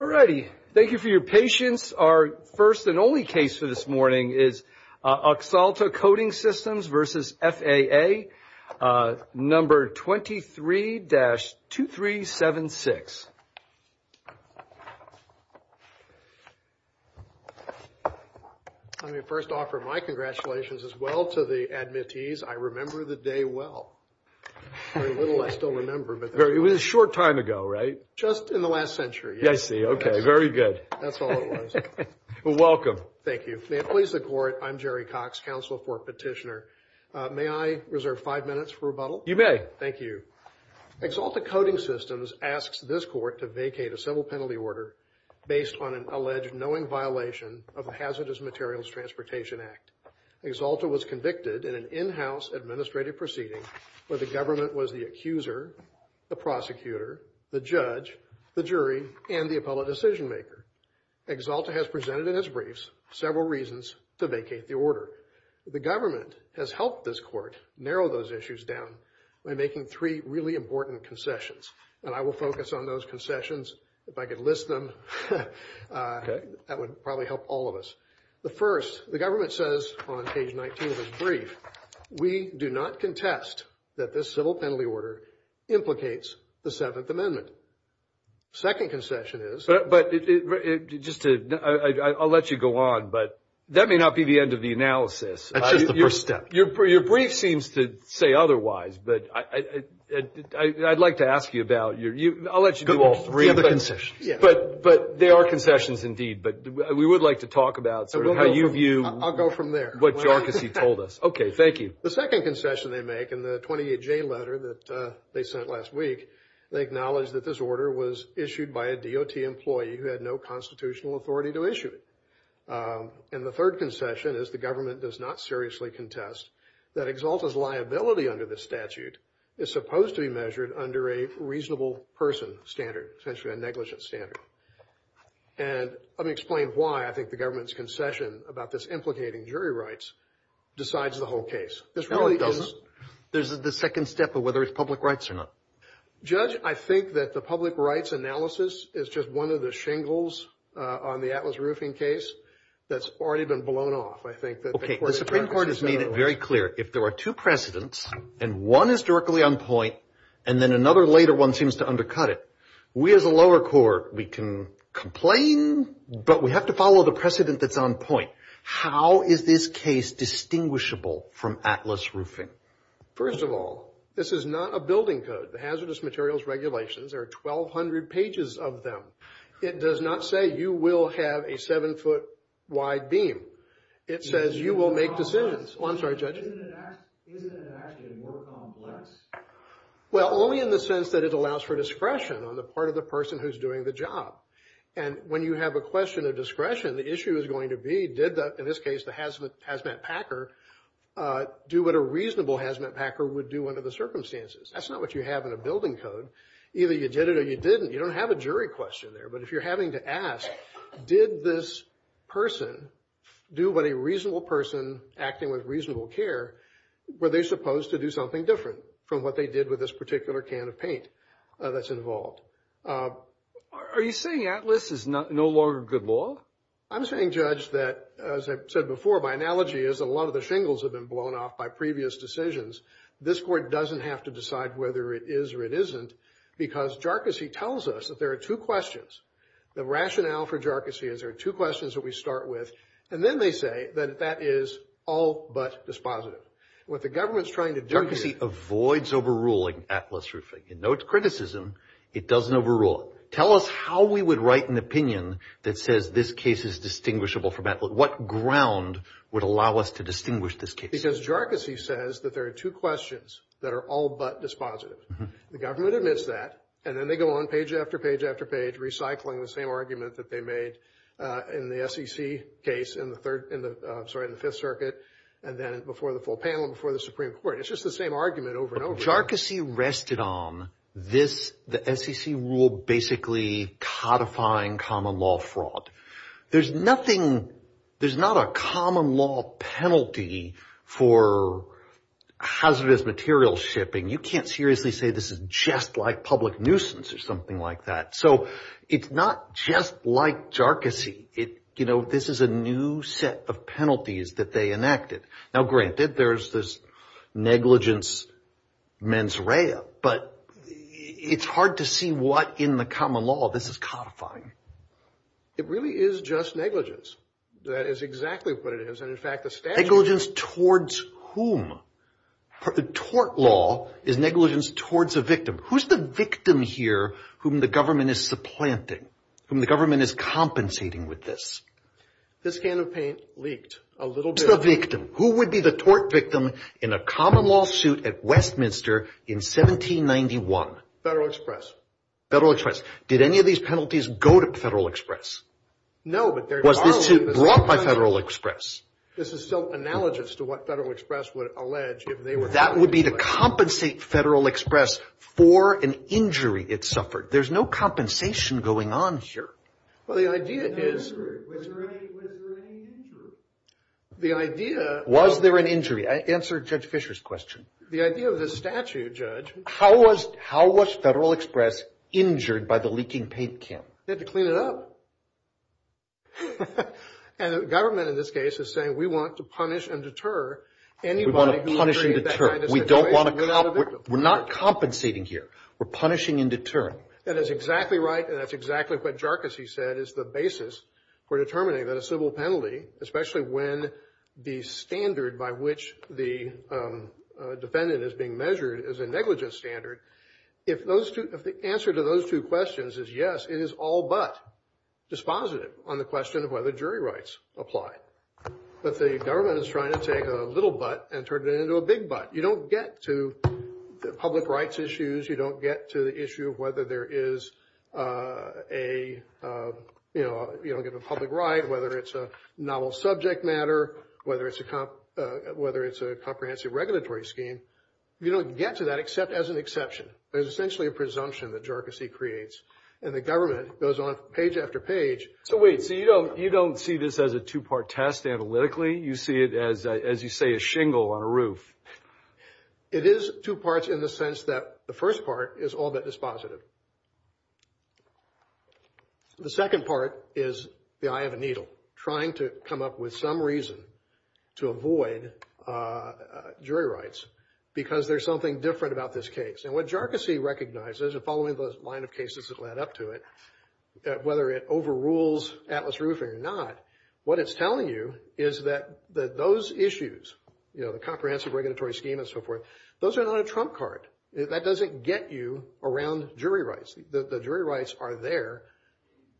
Alrighty, thank you for your patience. Our first and only case for this morning is AXALTA Coding Systems v. FAA, number 23-2376. Let me first offer my congratulations as well to the admittees. I remember the day well. Very little I still remember. It was a short time ago, right? Just in the last century. I see, okay, very good. That's all it was. Well, welcome. Thank you. May it please the court, I'm Jerry Cox, Counsel for Petitioner. May I reserve five minutes for rebuttal? You may. Thank you. AXALTA Coding Systems asks this court to vacate a civil penalty order based on an alleged knowing violation of the Hazardous Materials Transportation Act. AXALTA was convicted in an in-house administrative proceeding where the government was the accuser, the prosecutor, the judge, the jury, and the appellate decision maker. AXALTA has presented in its briefs several reasons to vacate the order. The government has helped this court narrow those issues down by making three really important concessions, and I will focus on those concessions. If I could list them, that would probably help all of us. The first, the government says on page 19 of its brief, we do not contest that this civil penalty order implicates the Seventh Amendment. Second concession is – But just to – I'll let you go on, but that may not be the end of the analysis. That's just the first step. Your brief seems to say otherwise, but I'd like to ask you about – I'll let you do all three of them. They're concessions. But they are concessions indeed, but we would like to talk about sort of how you view – I'll go from there. What Jarkissi told us. Okay, thank you. The second concession they make in the 28-J letter that they sent last week, they acknowledge that this order was issued by a DOT employee who had no constitutional authority to issue it. And the third concession is the government does not seriously contest that Exalta's liability under this statute is supposed to be measured under a reasonable person standard, essentially a negligent standard. And let me explain why I think the government's concession about this implicating jury rights decides the whole case. This really is – No, it doesn't. This is the second step of whether it's public rights or not. Judge, I think that the public rights analysis is just one of the shingles on the Atlas Roofing case that's already been blown off, I think. Okay, the Supreme Court has made it very clear. If there are two precedents and one is directly on point and then another later one seems to undercut it, we as a lower court, we can complain, but we have to follow the precedent that's on point. How is this case distinguishable from Atlas Roofing? First of all, this is not a building code, the Hazardous Materials Regulations. There are 1,200 pages of them. It does not say you will have a seven-foot wide beam. It says you will make decisions. Oh, I'm sorry, Judge. Isn't it actually more complex? Well, only in the sense that it allows for discretion on the part of the person who's doing the job. And when you have a question of discretion, the issue is going to be, in this case, did the hazmat packer do what a reasonable hazmat packer would do under the circumstances? That's not what you have in a building code. Either you did it or you didn't. You don't have a jury question there. But if you're having to ask, did this person do what a reasonable person acting with reasonable care, were they supposed to do something different from what they did with this particular can of paint that's involved? Are you saying ATLAS is no longer good law? I'm saying, Judge, that, as I've said before, my analogy is a lot of the shingles have been blown off by previous decisions. This court doesn't have to decide whether it is or it isn't because JARCISI tells us that there are two questions. The rationale for JARCISI is there are two questions that we start with, and then they say that that is all but dispositive. What the government's trying to do here— JARCISI avoids overruling ATLAS roofing. It notes criticism. It doesn't overrule it. Tell us how we would write an opinion that says this case is distinguishable from ATLAS. What ground would allow us to distinguish this case? Because JARCISI says that there are two questions that are all but dispositive. The government admits that, and then they go on page after page after page, recycling the same argument that they made in the SEC case in the Third—I'm sorry, in the Fifth Circuit, and then before the full panel and before the Supreme Court. It's just the same argument over and over again. So JARCISI rested on this—the SEC rule basically codifying common law fraud. There's nothing—there's not a common law penalty for hazardous materials shipping. You can't seriously say this is just like public nuisance or something like that. So it's not just like JARCISI. You know, this is a new set of penalties that they enacted. Now, granted, there's this negligence mens rea, but it's hard to see what in the common law this is codifying. It really is just negligence. That is exactly what it is. And in fact, the statute— Negligence towards whom? The tort law is negligence towards a victim. Who's the victim here whom the government is supplanting, whom the government is compensating with this? This can of paint leaked a little bit. Who's the victim? Who would be the tort victim in a common law suit at Westminster in 1791? Federal Express. Federal Express. Did any of these penalties go to Federal Express? No, but they're— Was this suit brought by Federal Express? This is still analogous to what Federal Express would allege if they were— That would be to compensate Federal Express for an injury it suffered. There's no compensation going on here. Well, the idea is— Was there any injury? The idea— Was there an injury? Answer Judge Fisher's question. The idea of the statute, Judge— How was Federal Express injured by the leaking paint, Kim? They had to clean it up. And the government in this case is saying we want to punish and deter anybody who— We want to punish and deter. We don't want to— We're not compensating here. We're punishing and deterring. That is exactly right, and that's exactly what Jarcusy said is the basis for determining that a civil penalty, especially when the standard by which the defendant is being measured is a negligent standard, if the answer to those two questions is yes, it is all but dispositive on the question of whether jury rights apply. But the government is trying to take a little but and turn it into a big but. You don't get to the public rights issues. You don't get to the issue of whether there is a—you don't get a public right, whether it's a novel subject matter, whether it's a comprehensive regulatory scheme. You don't get to that except as an exception. There's essentially a presumption that Jarcusy creates, and the government goes on page after page. So wait, so you don't see this as a two-part test analytically? You see it as, as you say, a shingle on a roof. It is two parts in the sense that the first part is all but dispositive. The second part is the eye of a needle, trying to come up with some reason to avoid jury rights because there's something different about this case. And what Jarcusy recognizes, following the line of cases that led up to it, whether it overrules Atlas Roofing or not, what it's telling you is that those issues, you know, the comprehensive regulatory scheme and so forth, those are not a trump card. That doesn't get you around jury rights. The jury rights are there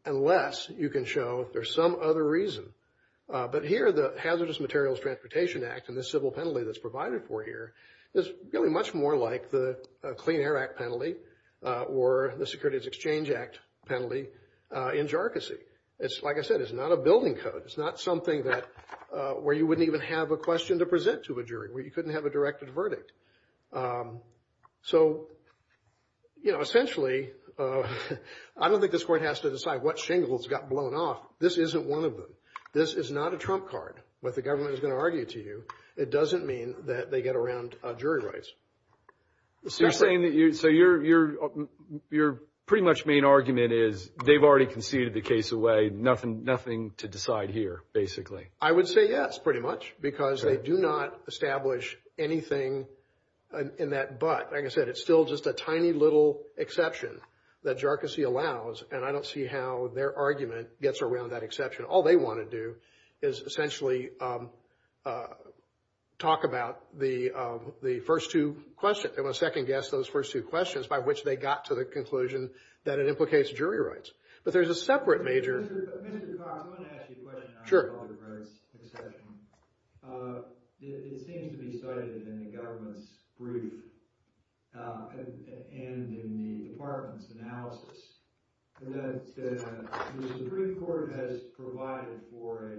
unless you can show there's some other reason. But here the Hazardous Materials Transportation Act and the civil penalty that's provided for here is really much more like the Clean Air Act penalty or the Securities Exchange Act penalty in Jarcusy. It's, like I said, it's not a building code. It's not something that, where you wouldn't even have a question to present to a jury, where you couldn't have a directed verdict. So, you know, essentially, I don't think this court has to decide what shingles got blown off. This isn't one of them. This is not a trump card, what the government is going to argue to you. It doesn't mean that they get around jury rights. So you're saying that you, so your pretty much main argument is they've already conceded the case away, nothing to decide here, basically. I would say yes, pretty much, because they do not establish anything in that but. Like I said, it's still just a tiny little exception that Jarcusy allows, and I don't see how their argument gets around that exception. All they want to do is essentially talk about the first two questions. They want to second guess those first two questions by which they got to the conclusion that it implicates jury rights. But there's a separate major. Mr. Cox, I want to ask you a question about the jury rights exception. It seems to be cited in the government's brief and in the department's analysis that the Supreme Court has provided for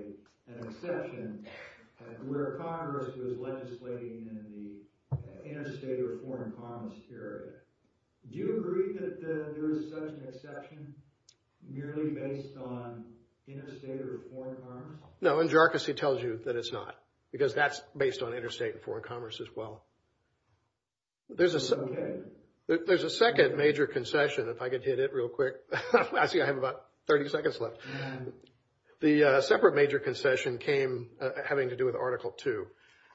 an exception where Congress was legislating in the anti-state reform and foreign commerce period. Do you agree that there is such an exception merely based on interstate or foreign commerce? No, and Jarcusy tells you that it's not, because that's based on interstate and foreign commerce as well. There's a second major concession, if I could hit it real quick. Actually, I have about 30 seconds left. The separate major concession came having to do with Article II,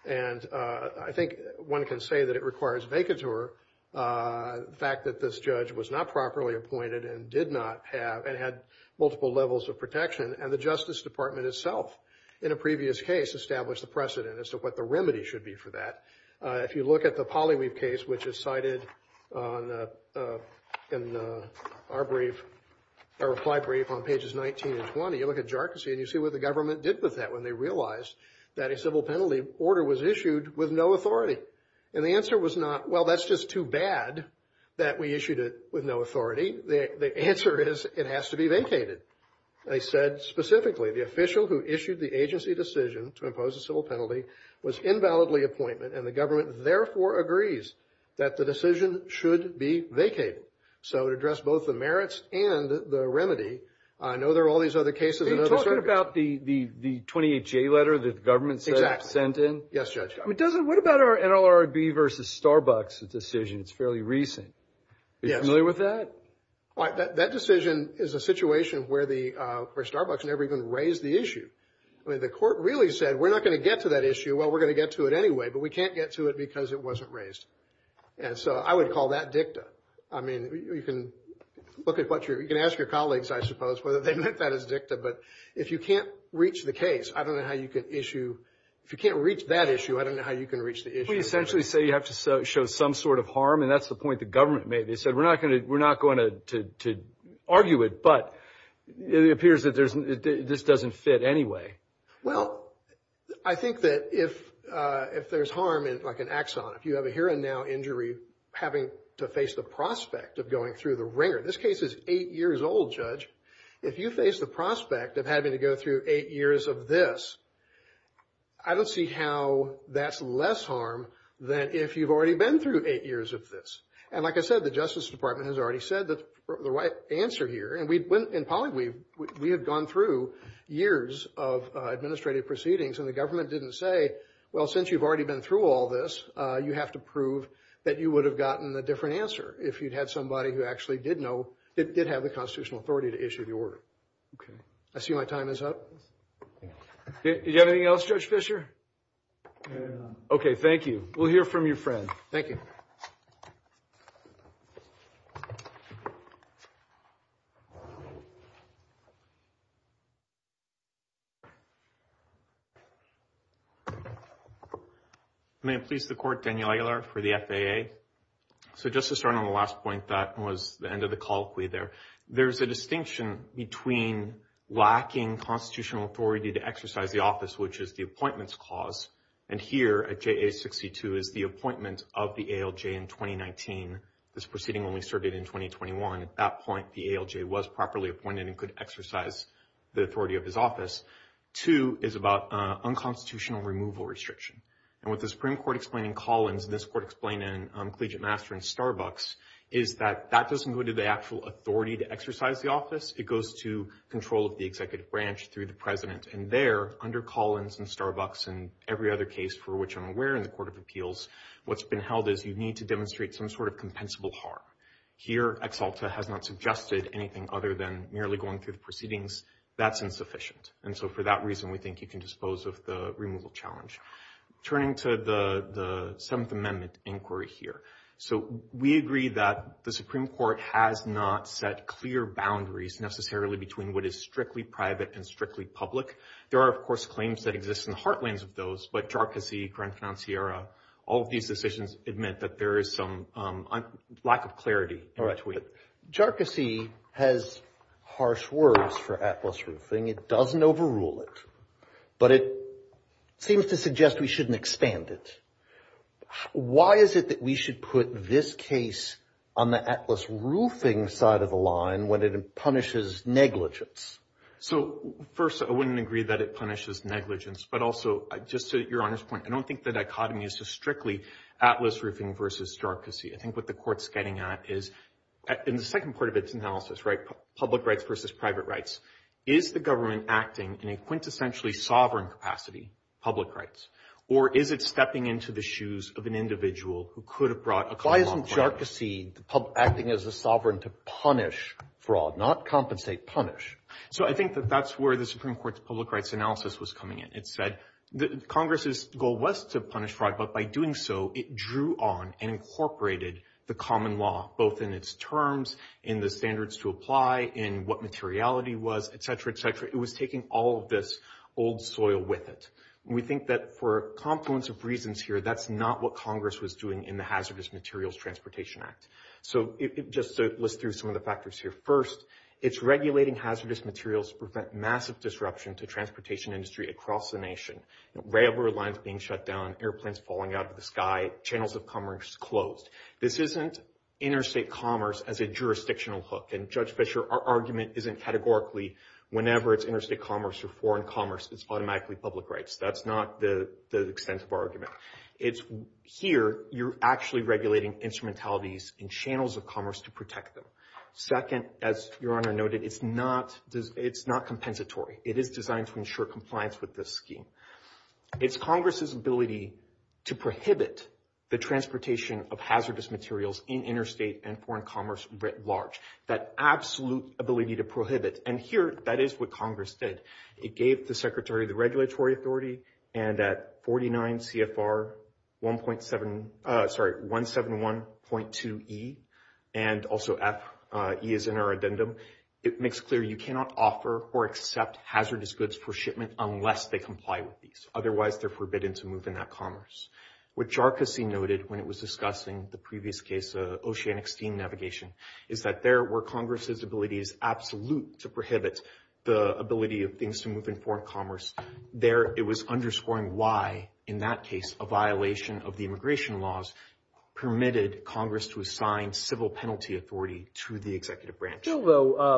and I think one can say that it requires vacatur, the fact that this judge was not properly appointed and did not have and had multiple levels of protection, and the Justice Department itself in a previous case established the precedent as to what the remedy should be for that. If you look at the Polly Weave case, which is cited in our reply brief on pages 19 and 20, you look at Jarcusy and you see what the government did with that when they realized that a civil penalty order was issued with no authority. And the answer was not, well, that's just too bad that we issued it with no authority. The answer is it has to be vacated. They said specifically the official who issued the agency decision to impose a civil penalty was invalidly appointment, and the government therefore agrees that the decision should be vacated. So to address both the merits and the remedy, I know there are all these other cases. Are you talking about the 28J letter that the government sent in? Yes, Judge. What about our NLRB versus Starbucks decision? It's fairly recent. Are you familiar with that? That decision is a situation where Starbucks never even raised the issue. The court really said we're not going to get to that issue. Well, we're going to get to it anyway, but we can't get to it because it wasn't raised. And so I would call that dicta. I mean, you can ask your colleagues, I suppose, whether they meant that as dicta, but if you can't reach the case, I don't know how you can issue. If you can't reach that issue, I don't know how you can reach the issue. Well, you essentially say you have to show some sort of harm, and that's the point the government made. They said we're not going to argue it, but it appears that this doesn't fit anyway. Well, I think that if there's harm, like an axon, if you have a here and now injury, having to face the prospect of going through the ringer, this case is eight years old, Judge. If you face the prospect of having to go through eight years of this, I don't see how that's less harm than if you've already been through eight years of this. And like I said, the Justice Department has already said the right answer here, and we have gone through years of administrative proceedings, and the government didn't say, well, since you've already been through all this, you have to prove that you would have gotten a different answer if you'd had somebody who actually did have the constitutional authority to issue the order. I see my time is up. Do you have anything else, Judge Fischer? Okay, thank you. We'll hear from your friend. Thank you. May it please the Court, Daniel Aguilar for the FAA. So just to start on the last point, that was the end of the colloquy there, there's a distinction between lacking constitutional authority to exercise the office, which is the appointments clause, and here at JA62 is the appointment of the ALJ in 2019. This proceeding only started in 2021. At that point, the ALJ was properly appointed and could exercise the authority of his office. Two is about unconstitutional removal restriction. And what the Supreme Court explained in Collins and this Court explained in Collegiate Master and Starbucks is that that doesn't go to the actual authority to exercise the office, it goes to control of the executive branch through the president. And there, under Collins and Starbucks and every other case for which I'm aware in the Court of Appeals, what's been held is you need to demonstrate some sort of compensable harm. Here, Ex Alta has not suggested anything other than merely going through the proceedings. That's insufficient. And so for that reason, we think you can dispose of the removal challenge. Turning to the Seventh Amendment inquiry here. So we agree that the Supreme Court has not set clear boundaries necessarily between what is strictly private and strictly public. There are, of course, claims that exist in the heartlands of those, but Jarkissi, Grand Financiera, all of these decisions admit that there is some lack of clarity in between. Jarkissi has harsh words for atlas roofing. It doesn't overrule it. But it seems to suggest we shouldn't expand it. Why is it that we should put this case on the atlas roofing side of the line when it punishes negligence? So first, I wouldn't agree that it punishes negligence. But also, just to your honest point, I don't think the dichotomy is strictly atlas roofing versus Jarkissi. I think what the Court's getting at is, in the second part of its analysis, right, public rights versus private rights, is the government acting in a quintessentially sovereign capacity, public rights, or is it stepping into the shoes of an individual who could have brought a common point? Why isn't Jarkissi acting as a sovereign to punish fraud, not compensate, punish? So I think that that's where the Supreme Court's public rights analysis was coming in. Congress's goal was to punish fraud, but by doing so, it drew on and incorporated the common law, both in its terms, in the standards to apply, in what materiality was, et cetera, et cetera. It was taking all of this old soil with it. And we think that for a confluence of reasons here, that's not what Congress was doing in the Hazardous Materials Transportation Act. So just to list through some of the factors here. First, it's regulating hazardous materials to prevent massive disruption to transportation industry across the nation. Railroad lines being shut down, airplanes falling out of the sky, channels of commerce closed. This isn't interstate commerce as a jurisdictional hook. And, Judge Fischer, our argument isn't categorically, whenever it's interstate commerce or foreign commerce, it's automatically public rights. That's not the extent of our argument. Here, you're actually regulating instrumentalities and channels of commerce to protect them. Second, as Your Honor noted, it's not compensatory. It is designed to ensure compliance with this scheme. It's Congress's ability to prohibit the transportation of hazardous materials in interstate and foreign commerce writ large. That absolute ability to prohibit. And here, that is what Congress did. It gave the Secretary of the Regulatory Authority, and at 49 CFR 171.2E, and also F, E is in our addendum, it makes clear you cannot offer or accept hazardous goods for shipment unless they comply with these. Otherwise, they're forbidden to move in that commerce. What Jarkissi noted when it was discussing the previous case of oceanic steam navigation is that there were Congress's abilities absolute to prohibit the ability of things to move in foreign commerce. There, it was underscoring why, in that case, a violation of the immigration laws permitted Congress to assign civil penalty authority to the executive branch. Still, though,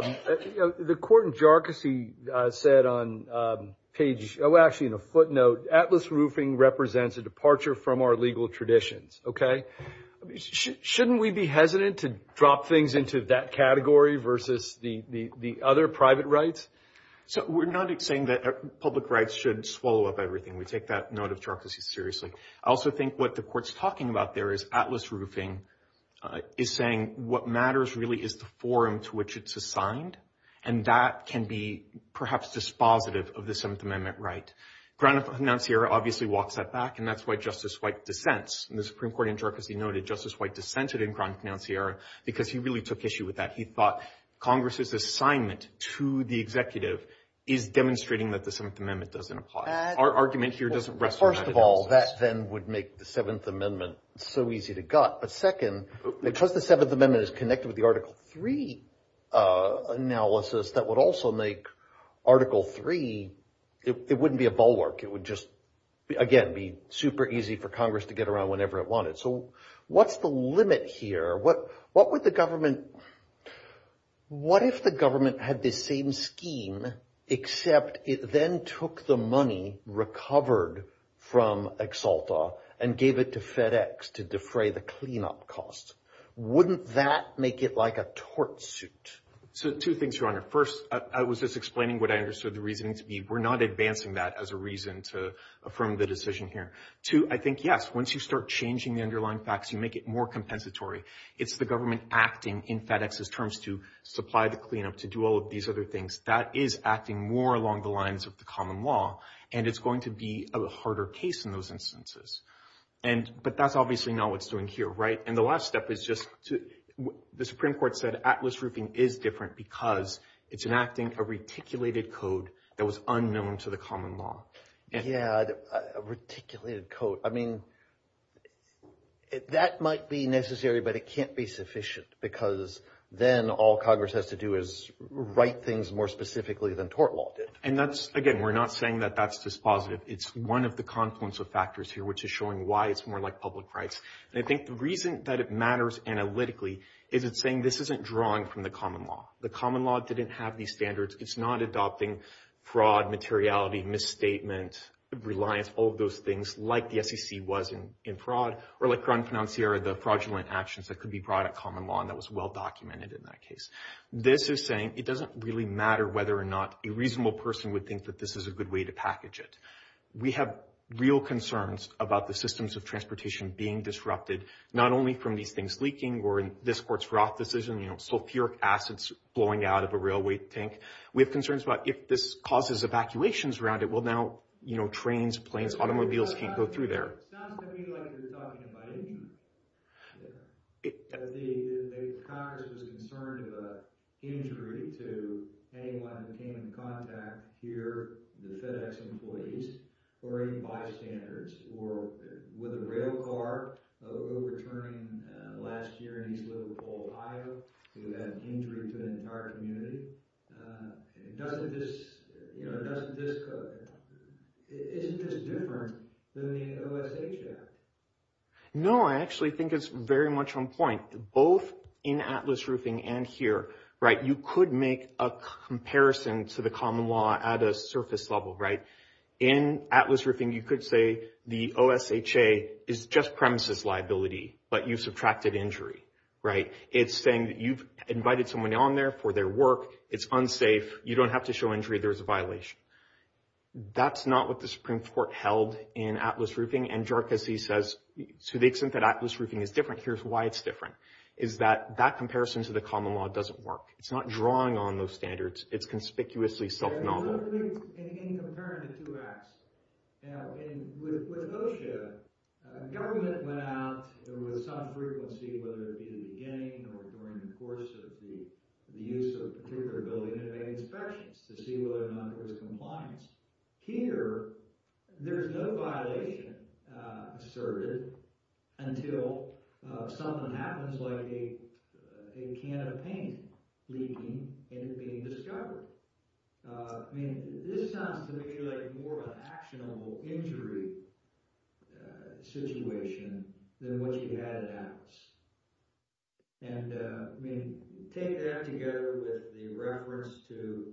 the court in Jarkissi said on page, well, actually in a footnote, Atlas Roofing represents a departure from our legal traditions. Okay? Shouldn't we be hesitant to drop things into that category versus the other private rights? So we're not saying that public rights should swallow up everything. We take that note of Jarkissi seriously. I also think what the court's talking about there is Atlas Roofing is saying what matters really is the forum to which it's assigned, and that can be perhaps dispositive of the Seventh Amendment right. Crown of Concierge obviously walks that back, and that's why Justice White dissents. And the Supreme Court in Jarkissi noted Justice White dissented in Crown of Concierge because he really took issue with that. He thought Congress's assignment to the executive is demonstrating that the Seventh Amendment doesn't apply. Our argument here doesn't rest on that analysis. First of all, that then would make the Seventh Amendment so easy to gut. But second, because the Seventh Amendment is connected with the Article III analysis, that would also make Article III – it wouldn't be a bulwark. It would just, again, be super easy for Congress to get around whenever it wanted. So what's the limit here? What would the government – what if the government had this same scheme, except it then took the money recovered from Exalta and gave it to FedEx to defray the cleanup costs? Wouldn't that make it like a tortsuit? So two things, Your Honor. First, I was just explaining what I understood the reasoning to be. We're not advancing that as a reason to affirm the decision here. Two, I think, yes, once you start changing the underlying facts, you make it more compensatory. It's the government acting in FedEx's terms to supply the cleanup, to do all of these other things. That is acting more along the lines of the common law, and it's going to be a harder case in those instances. But that's obviously not what's doing here, right? And the last step is just to – the Supreme Court said Atlas Roofing is different because it's enacting a reticulated code that was unknown to the common law. Yeah, a reticulated code. I mean, that might be necessary, but it can't be sufficient because then all Congress has to do is write things more specifically than tort law did. And that's – again, we're not saying that that's dispositive. It's one of the confluence of factors here, which is showing why it's more like public rights. And I think the reason that it matters analytically is it's saying this isn't drawn from the common law. The common law didn't have these standards. It's not adopting fraud, materiality, misstatement, reliance, all of those things, like the SEC was in fraud, or like Crown Financiera, the fraudulent actions that could be brought at common law, and that was well-documented in that case. This is saying it doesn't really matter whether or not a reasonable person would think that this is a good way to package it. We have real concerns about the systems of transportation being disrupted, not only from these things leaking or in this court's Roth decision, you know, sulfuric acids blowing out of a railway tank. We have concerns about if this causes evacuations around it, well, now, you know, trains, planes, automobiles can't go through there. It sounds to me like you're talking about it. The Congress was concerned of an injury to anyone who came into contact here, the FedEx employees, or even bystanders, or with a rail car overturning last year in East Liverpool, Ohio, who had an injury to an entire community. Doesn't this, you know, doesn't this, isn't this different than the OSHA? No, I actually think it's very much on point. Both in Atlas Roofing and here, right, you could make a comparison to the common law at a surface level, right? In Atlas Roofing, you could say the OSHA is just premises liability, but you've subtracted injury, right? It's saying that you've invited someone on there for their work. It's unsafe. You don't have to show injury. There's a violation. That's not what the Supreme Court held in Atlas Roofing. And Jharkhasi says, to the extent that Atlas Roofing is different, here's why it's different, is that that comparison to the common law doesn't work. It's not drawing on those standards. It's conspicuously self-novel. In comparing the two acts, you know, with OSHA, government went out with some frequency, whether it be at the beginning or during the course of the use of a particular building, and made inspections to see whether or not it was in compliance. Here, there's no violation asserted until something happens like a can of paint leaking and it being discovered. I mean, this sounds to me like more of an actionable injury situation than what you had at Atlas. And, I mean, take that together with the reference to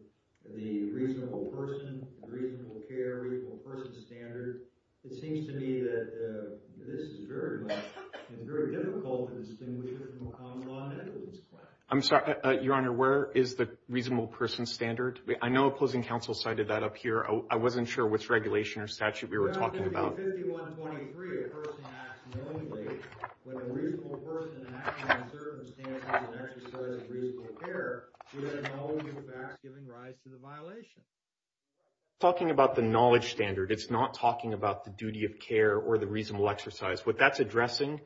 the reasonable person, reasonable care, reasonable person standard. It seems to me that this is very much and very difficult to distinguish between the common law and the equities plan. I'm sorry, Your Honor, where is the reasonable person standard? I know opposing counsel cited that up here. I wasn't sure which regulation or statute we were talking about. We're talking about the knowledge standard. It's not talking about the duty of care or the reasonable exercise. What that's addressing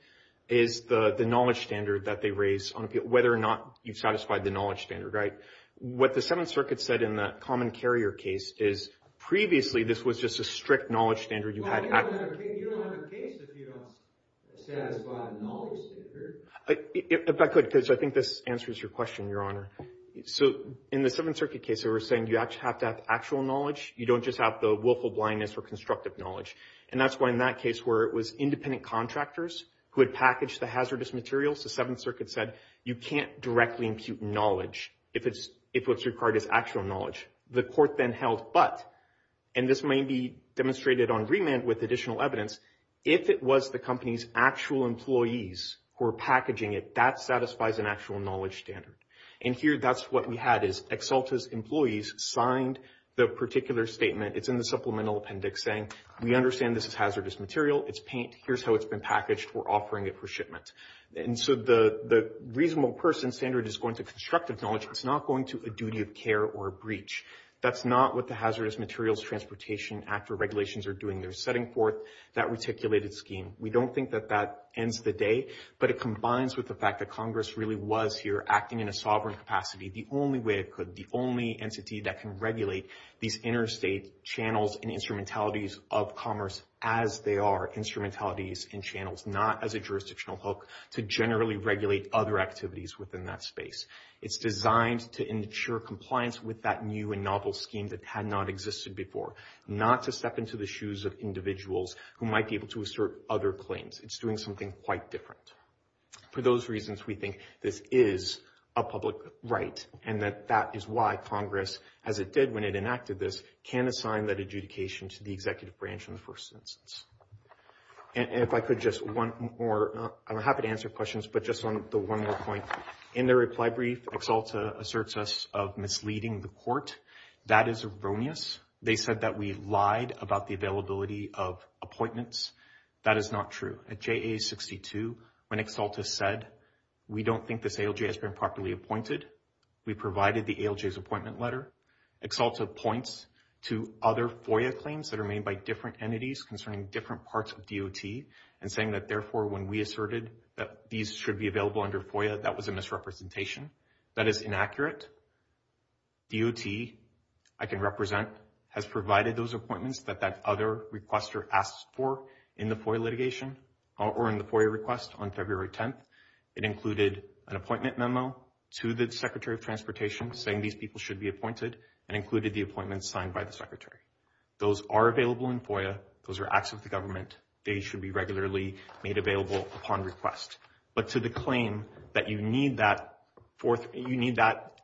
is the knowledge standard that they raise on whether or not you've satisfied the knowledge standard, right? What the Seventh Circuit said in the common carrier case is previously this was just a strict knowledge standard. You don't have a case if you don't satisfy a knowledge standard. If I could, because I think this answers your question, Your Honor. So in the Seventh Circuit case, they were saying you have to have actual knowledge. You don't just have the willful blindness or constructive knowledge. And that's why in that case where it was independent contractors who had packaged the hazardous materials, the Seventh Circuit said you can't directly impute knowledge if what's required is actual knowledge. The court then held but, and this may be demonstrated on remand with additional evidence, if it was the company's actual employees who were packaging it, that satisfies an actual knowledge standard. And here that's what we had is Exalta's employees signed the particular statement. It's in the supplemental appendix saying we understand this is hazardous material. It's paint. Here's how it's been packaged. We're offering it for shipment. And so the reasonable person standard is going to constructive knowledge. It's not going to a duty of care or a breach. That's not what the Hazardous Materials Transportation Act or regulations are doing. They're setting forth that reticulated scheme. We don't think that that ends the day, but it combines with the fact that Congress really was here acting in a sovereign capacity, the only way it could, the only entity that can regulate these interstate channels and instrumentalities of commerce as they are instrumentalities and channels, not as a jurisdictional hook to generally regulate other activities within that space. It's designed to ensure compliance with that new and novel scheme that had not existed before, not to step into the shoes of individuals who might be able to assert other claims. It's doing something quite different. For those reasons, we think this is a public right, and that that is why Congress, as it did when it enacted this, can assign that adjudication to the executive branch in the first instance. And if I could just one more, I'm happy to answer questions, but just on the one more point. In their reply brief, Exalta asserts us of misleading the court. That is erroneous. They said that we lied about the availability of appointments. That is not true. At JA62, when Exalta said, we don't think this ALJ has been properly appointed, we provided the ALJ's appointment letter. Exalta points to other FOIA claims that are made by different entities concerning different parts of DOT and saying that, therefore, when we asserted that these should be available under FOIA, that was a misrepresentation. That is inaccurate. DOT, I can represent, has provided those appointments that that other requester asked for in the FOIA litigation or in the FOIA request on February 10th. It included an appointment memo to the Secretary of Transportation saying these people should be appointed and included the appointments signed by the Secretary. Those are available in FOIA. Those are acts of the government. They should be regularly made available upon request. But to the claim that you need that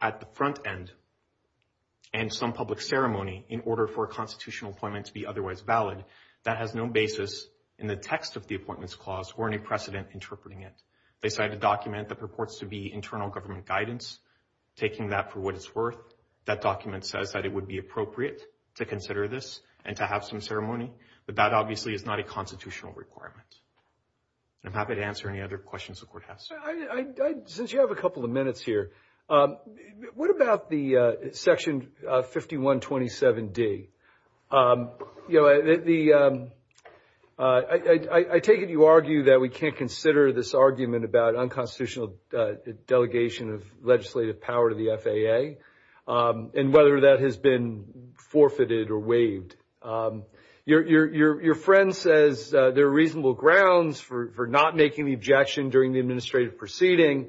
at the front end and some public ceremony in order for a constitutional appointment to be otherwise valid, that has no basis in the text of the appointments clause or any precedent interpreting it. They cite a document that purports to be internal government guidance. Taking that for what it's worth, that document says that it would be appropriate to consider this and to have some ceremony, but that obviously is not a constitutional requirement. I'm happy to answer any other questions the Court has. Since you have a couple of minutes here, what about the Section 5127D? I take it you argue that we can't consider this argument about unconstitutional delegation of legislative power to the FAA and whether that has been forfeited or waived. Your friend says there are reasonable grounds for not making the objection during the administrative proceeding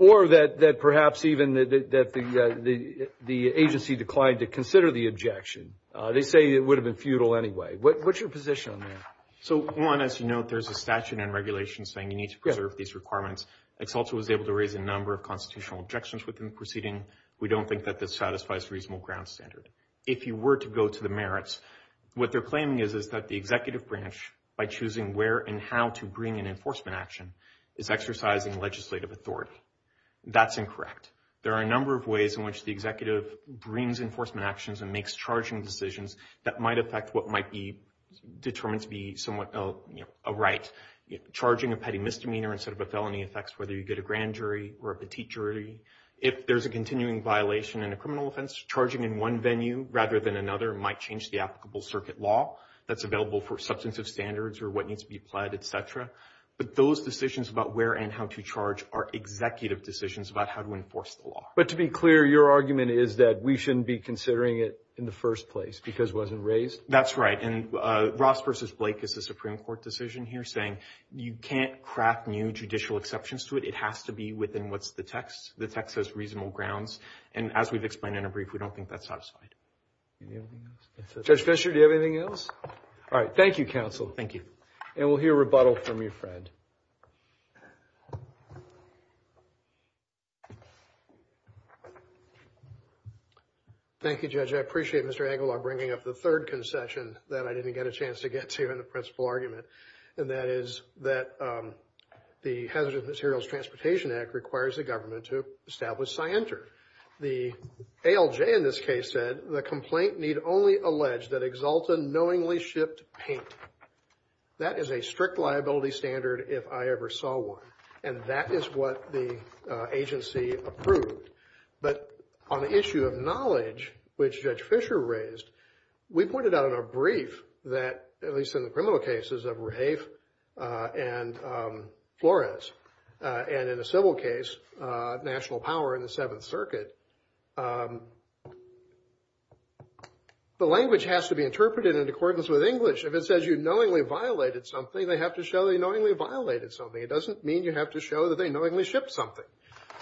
or that perhaps even that the agency declined to consider the objection. They say it would have been futile anyway. What's your position on that? One, as you note, there's a statute and regulation saying you need to preserve these requirements. EXALTA was able to raise a number of constitutional objections within the proceeding. We don't think that this satisfies a reasonable ground standard. If you were to go to the merits, what they're claiming is that the executive branch, by choosing where and how to bring an enforcement action, is exercising legislative authority. That's incorrect. There are a number of ways in which the executive brings enforcement actions and makes charging decisions that might affect what might be determined to be somewhat a right. Charging a petty misdemeanor instead of a felony affects whether you get a grand jury or a petite jury. If there's a continuing violation in a criminal offense, charging in one venue rather than another might change the applicable circuit law that's available for substantive standards or what needs to be applied, et cetera. But those decisions about where and how to charge are executive decisions about how to enforce the law. But to be clear, your argument is that we shouldn't be considering it in the first place because it wasn't raised? That's right. And Ross v. Blake is a Supreme Court decision here saying you can't craft new judicial exceptions to it. It has to be within what's the text. The text has reasonable grounds. And as we've explained in a brief, we don't think that's satisfied. Judge Fischer, do you have anything else? All right. Thank you, counsel. Thank you. And we'll hear rebuttal from your friend. Thank you, Judge. I appreciate Mr. Engelbart bringing up the third concession that I didn't get a chance to get to in the principal argument, and that is that the Hazardous Materials Transportation Act requires the government to establish scienter. The ALJ in this case said the complaint need only allege that Exalta knowingly shipped paint. That is a strict liability standard if I ever saw one. And that is what the agency approved. But on the issue of knowledge, which Judge Fischer raised, we pointed out in a brief that, at least in the criminal cases of Rafe and Flores, and in a civil case, national power in the Seventh Circuit, the language has to be interpreted in accordance with English. If it says you knowingly violated something, they have to show they knowingly violated something. It doesn't mean you have to show that they knowingly shipped something.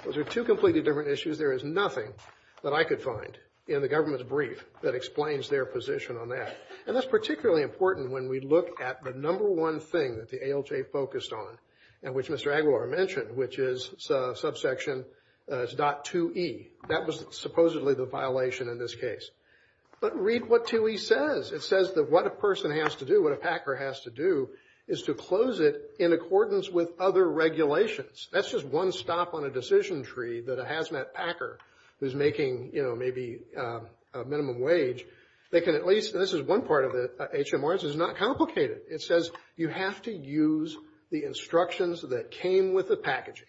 Those are two completely different issues. There is nothing that I could find in the government's brief that explains their position on that. And that's particularly important when we look at the number one thing that the ALJ focused on, and which Mr. Aguilar mentioned, which is subsection .2e. That was supposedly the violation in this case. But read what 2e says. It says that what a person has to do, what a packer has to do, is to close it in accordance with other regulations. That's just one stop on a decision tree that a hazmat packer who's making, you know, maybe a minimum wage, they can at least, and this is one part of the HMRs, it's not complicated. It says you have to use the instructions that came with the packaging.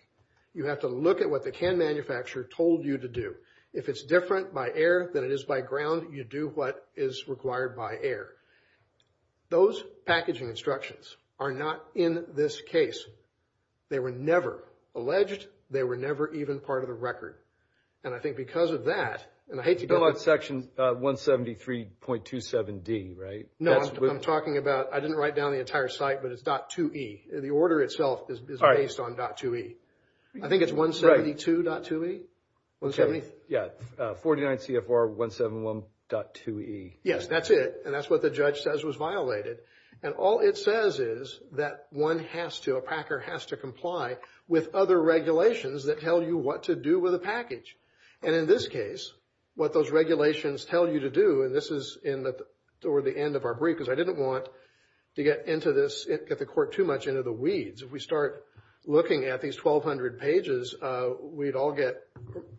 You have to look at what the can manufacturer told you to do. If it's different by air than it is by ground, you do what is required by air. Those packaging instructions are not in this case. They were never alleged. They were never even part of the record. And I think because of that, and I hate to build on section 173.27d, right? No, I'm talking about, I didn't write down the entire site, but it's .2e. The order itself is based on .2e. I think it's 172.2e? Yeah, 49 CFR 171.2e. Yes, that's it. And that's what the judge says was violated. And all it says is that one has to, a packer has to comply with other regulations that tell you what to do with a package. And in this case, what those regulations tell you to do, and this is in the end of our brief, because I didn't want to get the court too much into the weeds. If we start looking at these 1,200 pages, we'd all get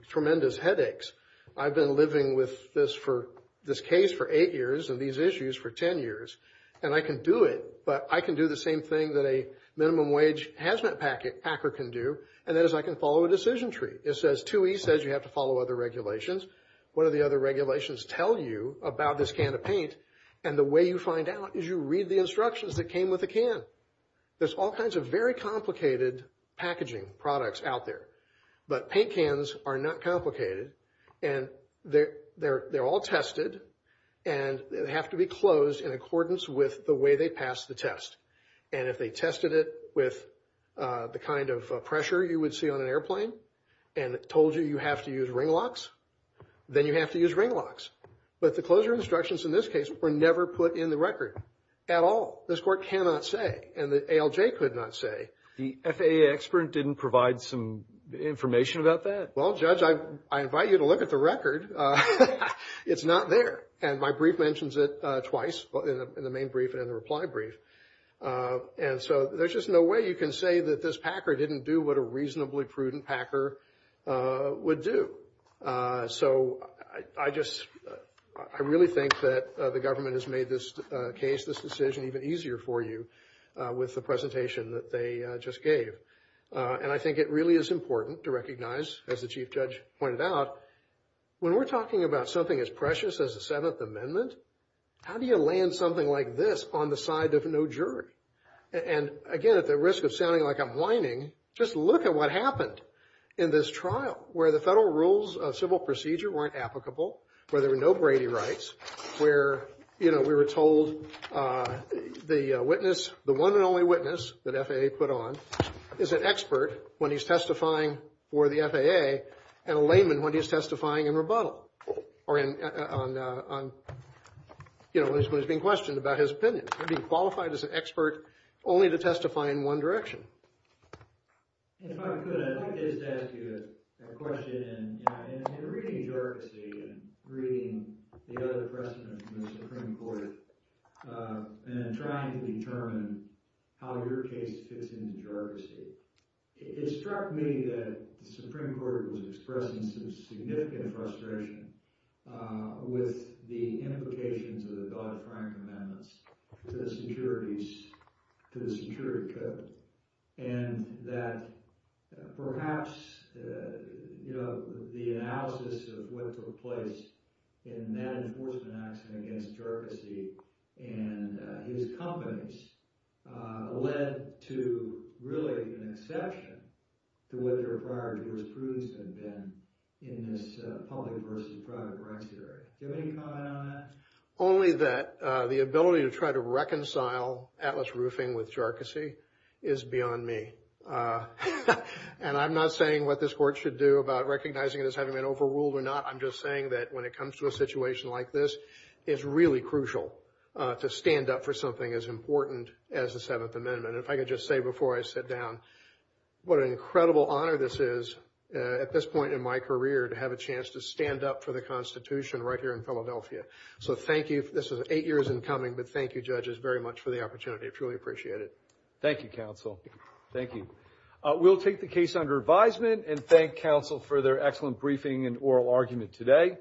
tremendous headaches. I've been living with this case for eight years and these issues for ten years. And I can do it, but I can do the same thing that a minimum wage hazmat packer can do, and that is I can follow a decision tree. It says 2e says you have to follow other regulations. What do the other regulations tell you about this can of paint? And the way you find out is you read the instructions that came with the can. There's all kinds of very complicated packaging products out there. But paint cans are not complicated. And they're all tested, and they have to be closed in accordance with the way they pass the test. And if they tested it with the kind of pressure you would see on an airplane and told you you have to use ring locks, then you have to use ring locks. But the closure instructions in this case were never put in the record at all. This court cannot say, and the ALJ could not say. The FAA expert didn't provide some information about that? Well, Judge, I invite you to look at the record. It's not there. And my brief mentions it twice, in the main brief and in the reply brief. And so there's just no way you can say that this packer didn't do what a reasonably prudent packer would do. So I just really think that the government has made this case, this decision, even easier for you with the presentation that they just gave. And I think it really is important to recognize, as the Chief Judge pointed out, when we're talking about something as precious as the Seventh Amendment, how do you land something like this on the side of no jury? And, again, at the risk of sounding like I'm whining, just look at what happened in this trial, where the federal rules of civil procedure weren't applicable, where there were no Brady rights, where we were told the one and only witness that FAA put on is an expert when he's testifying for the FAA and a layman when he's testifying in rebuttal, or when he's being questioned about his opinion. He'd be qualified as an expert only to testify in one direction. If I could, I'd like to just ask you a question. In reading the Jurisdiction and reading the other precedent from the Supreme Court and trying to determine how your case fits into the Jurisdiction, it struck me that the Supreme Court was expressing some significant frustration with the implications of the Dodd-Frank Amendments to the security code, and that perhaps the analysis of what took place in that enforcement action against Gergesy and his companies led to really an exception to what their prior jurisprudence had been in this public versus private regulatory. Do you have any comment on that? Only that the ability to try to reconcile Atlas Roofing with Gergesy is beyond me. And I'm not saying what this Court should do about recognizing it as having been overruled or not. I'm just saying that when it comes to a situation like this, it's really crucial to stand up for something as important as the Seventh Amendment. And if I could just say before I sit down, what an incredible honor this is at this point in my career to have a chance to stand up for the Constitution right here in Philadelphia. So thank you. This is eight years in coming, but thank you, judges, very much for the opportunity. I truly appreciate it. Thank you, counsel. Thank you. We'll take the case under advisement and thank counsel for their excellent briefing and oral argument today.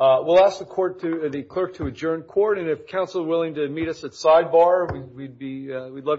We'll ask the clerk to adjourn court, and if counsel is willing to meet us at sidebar, we'd love to.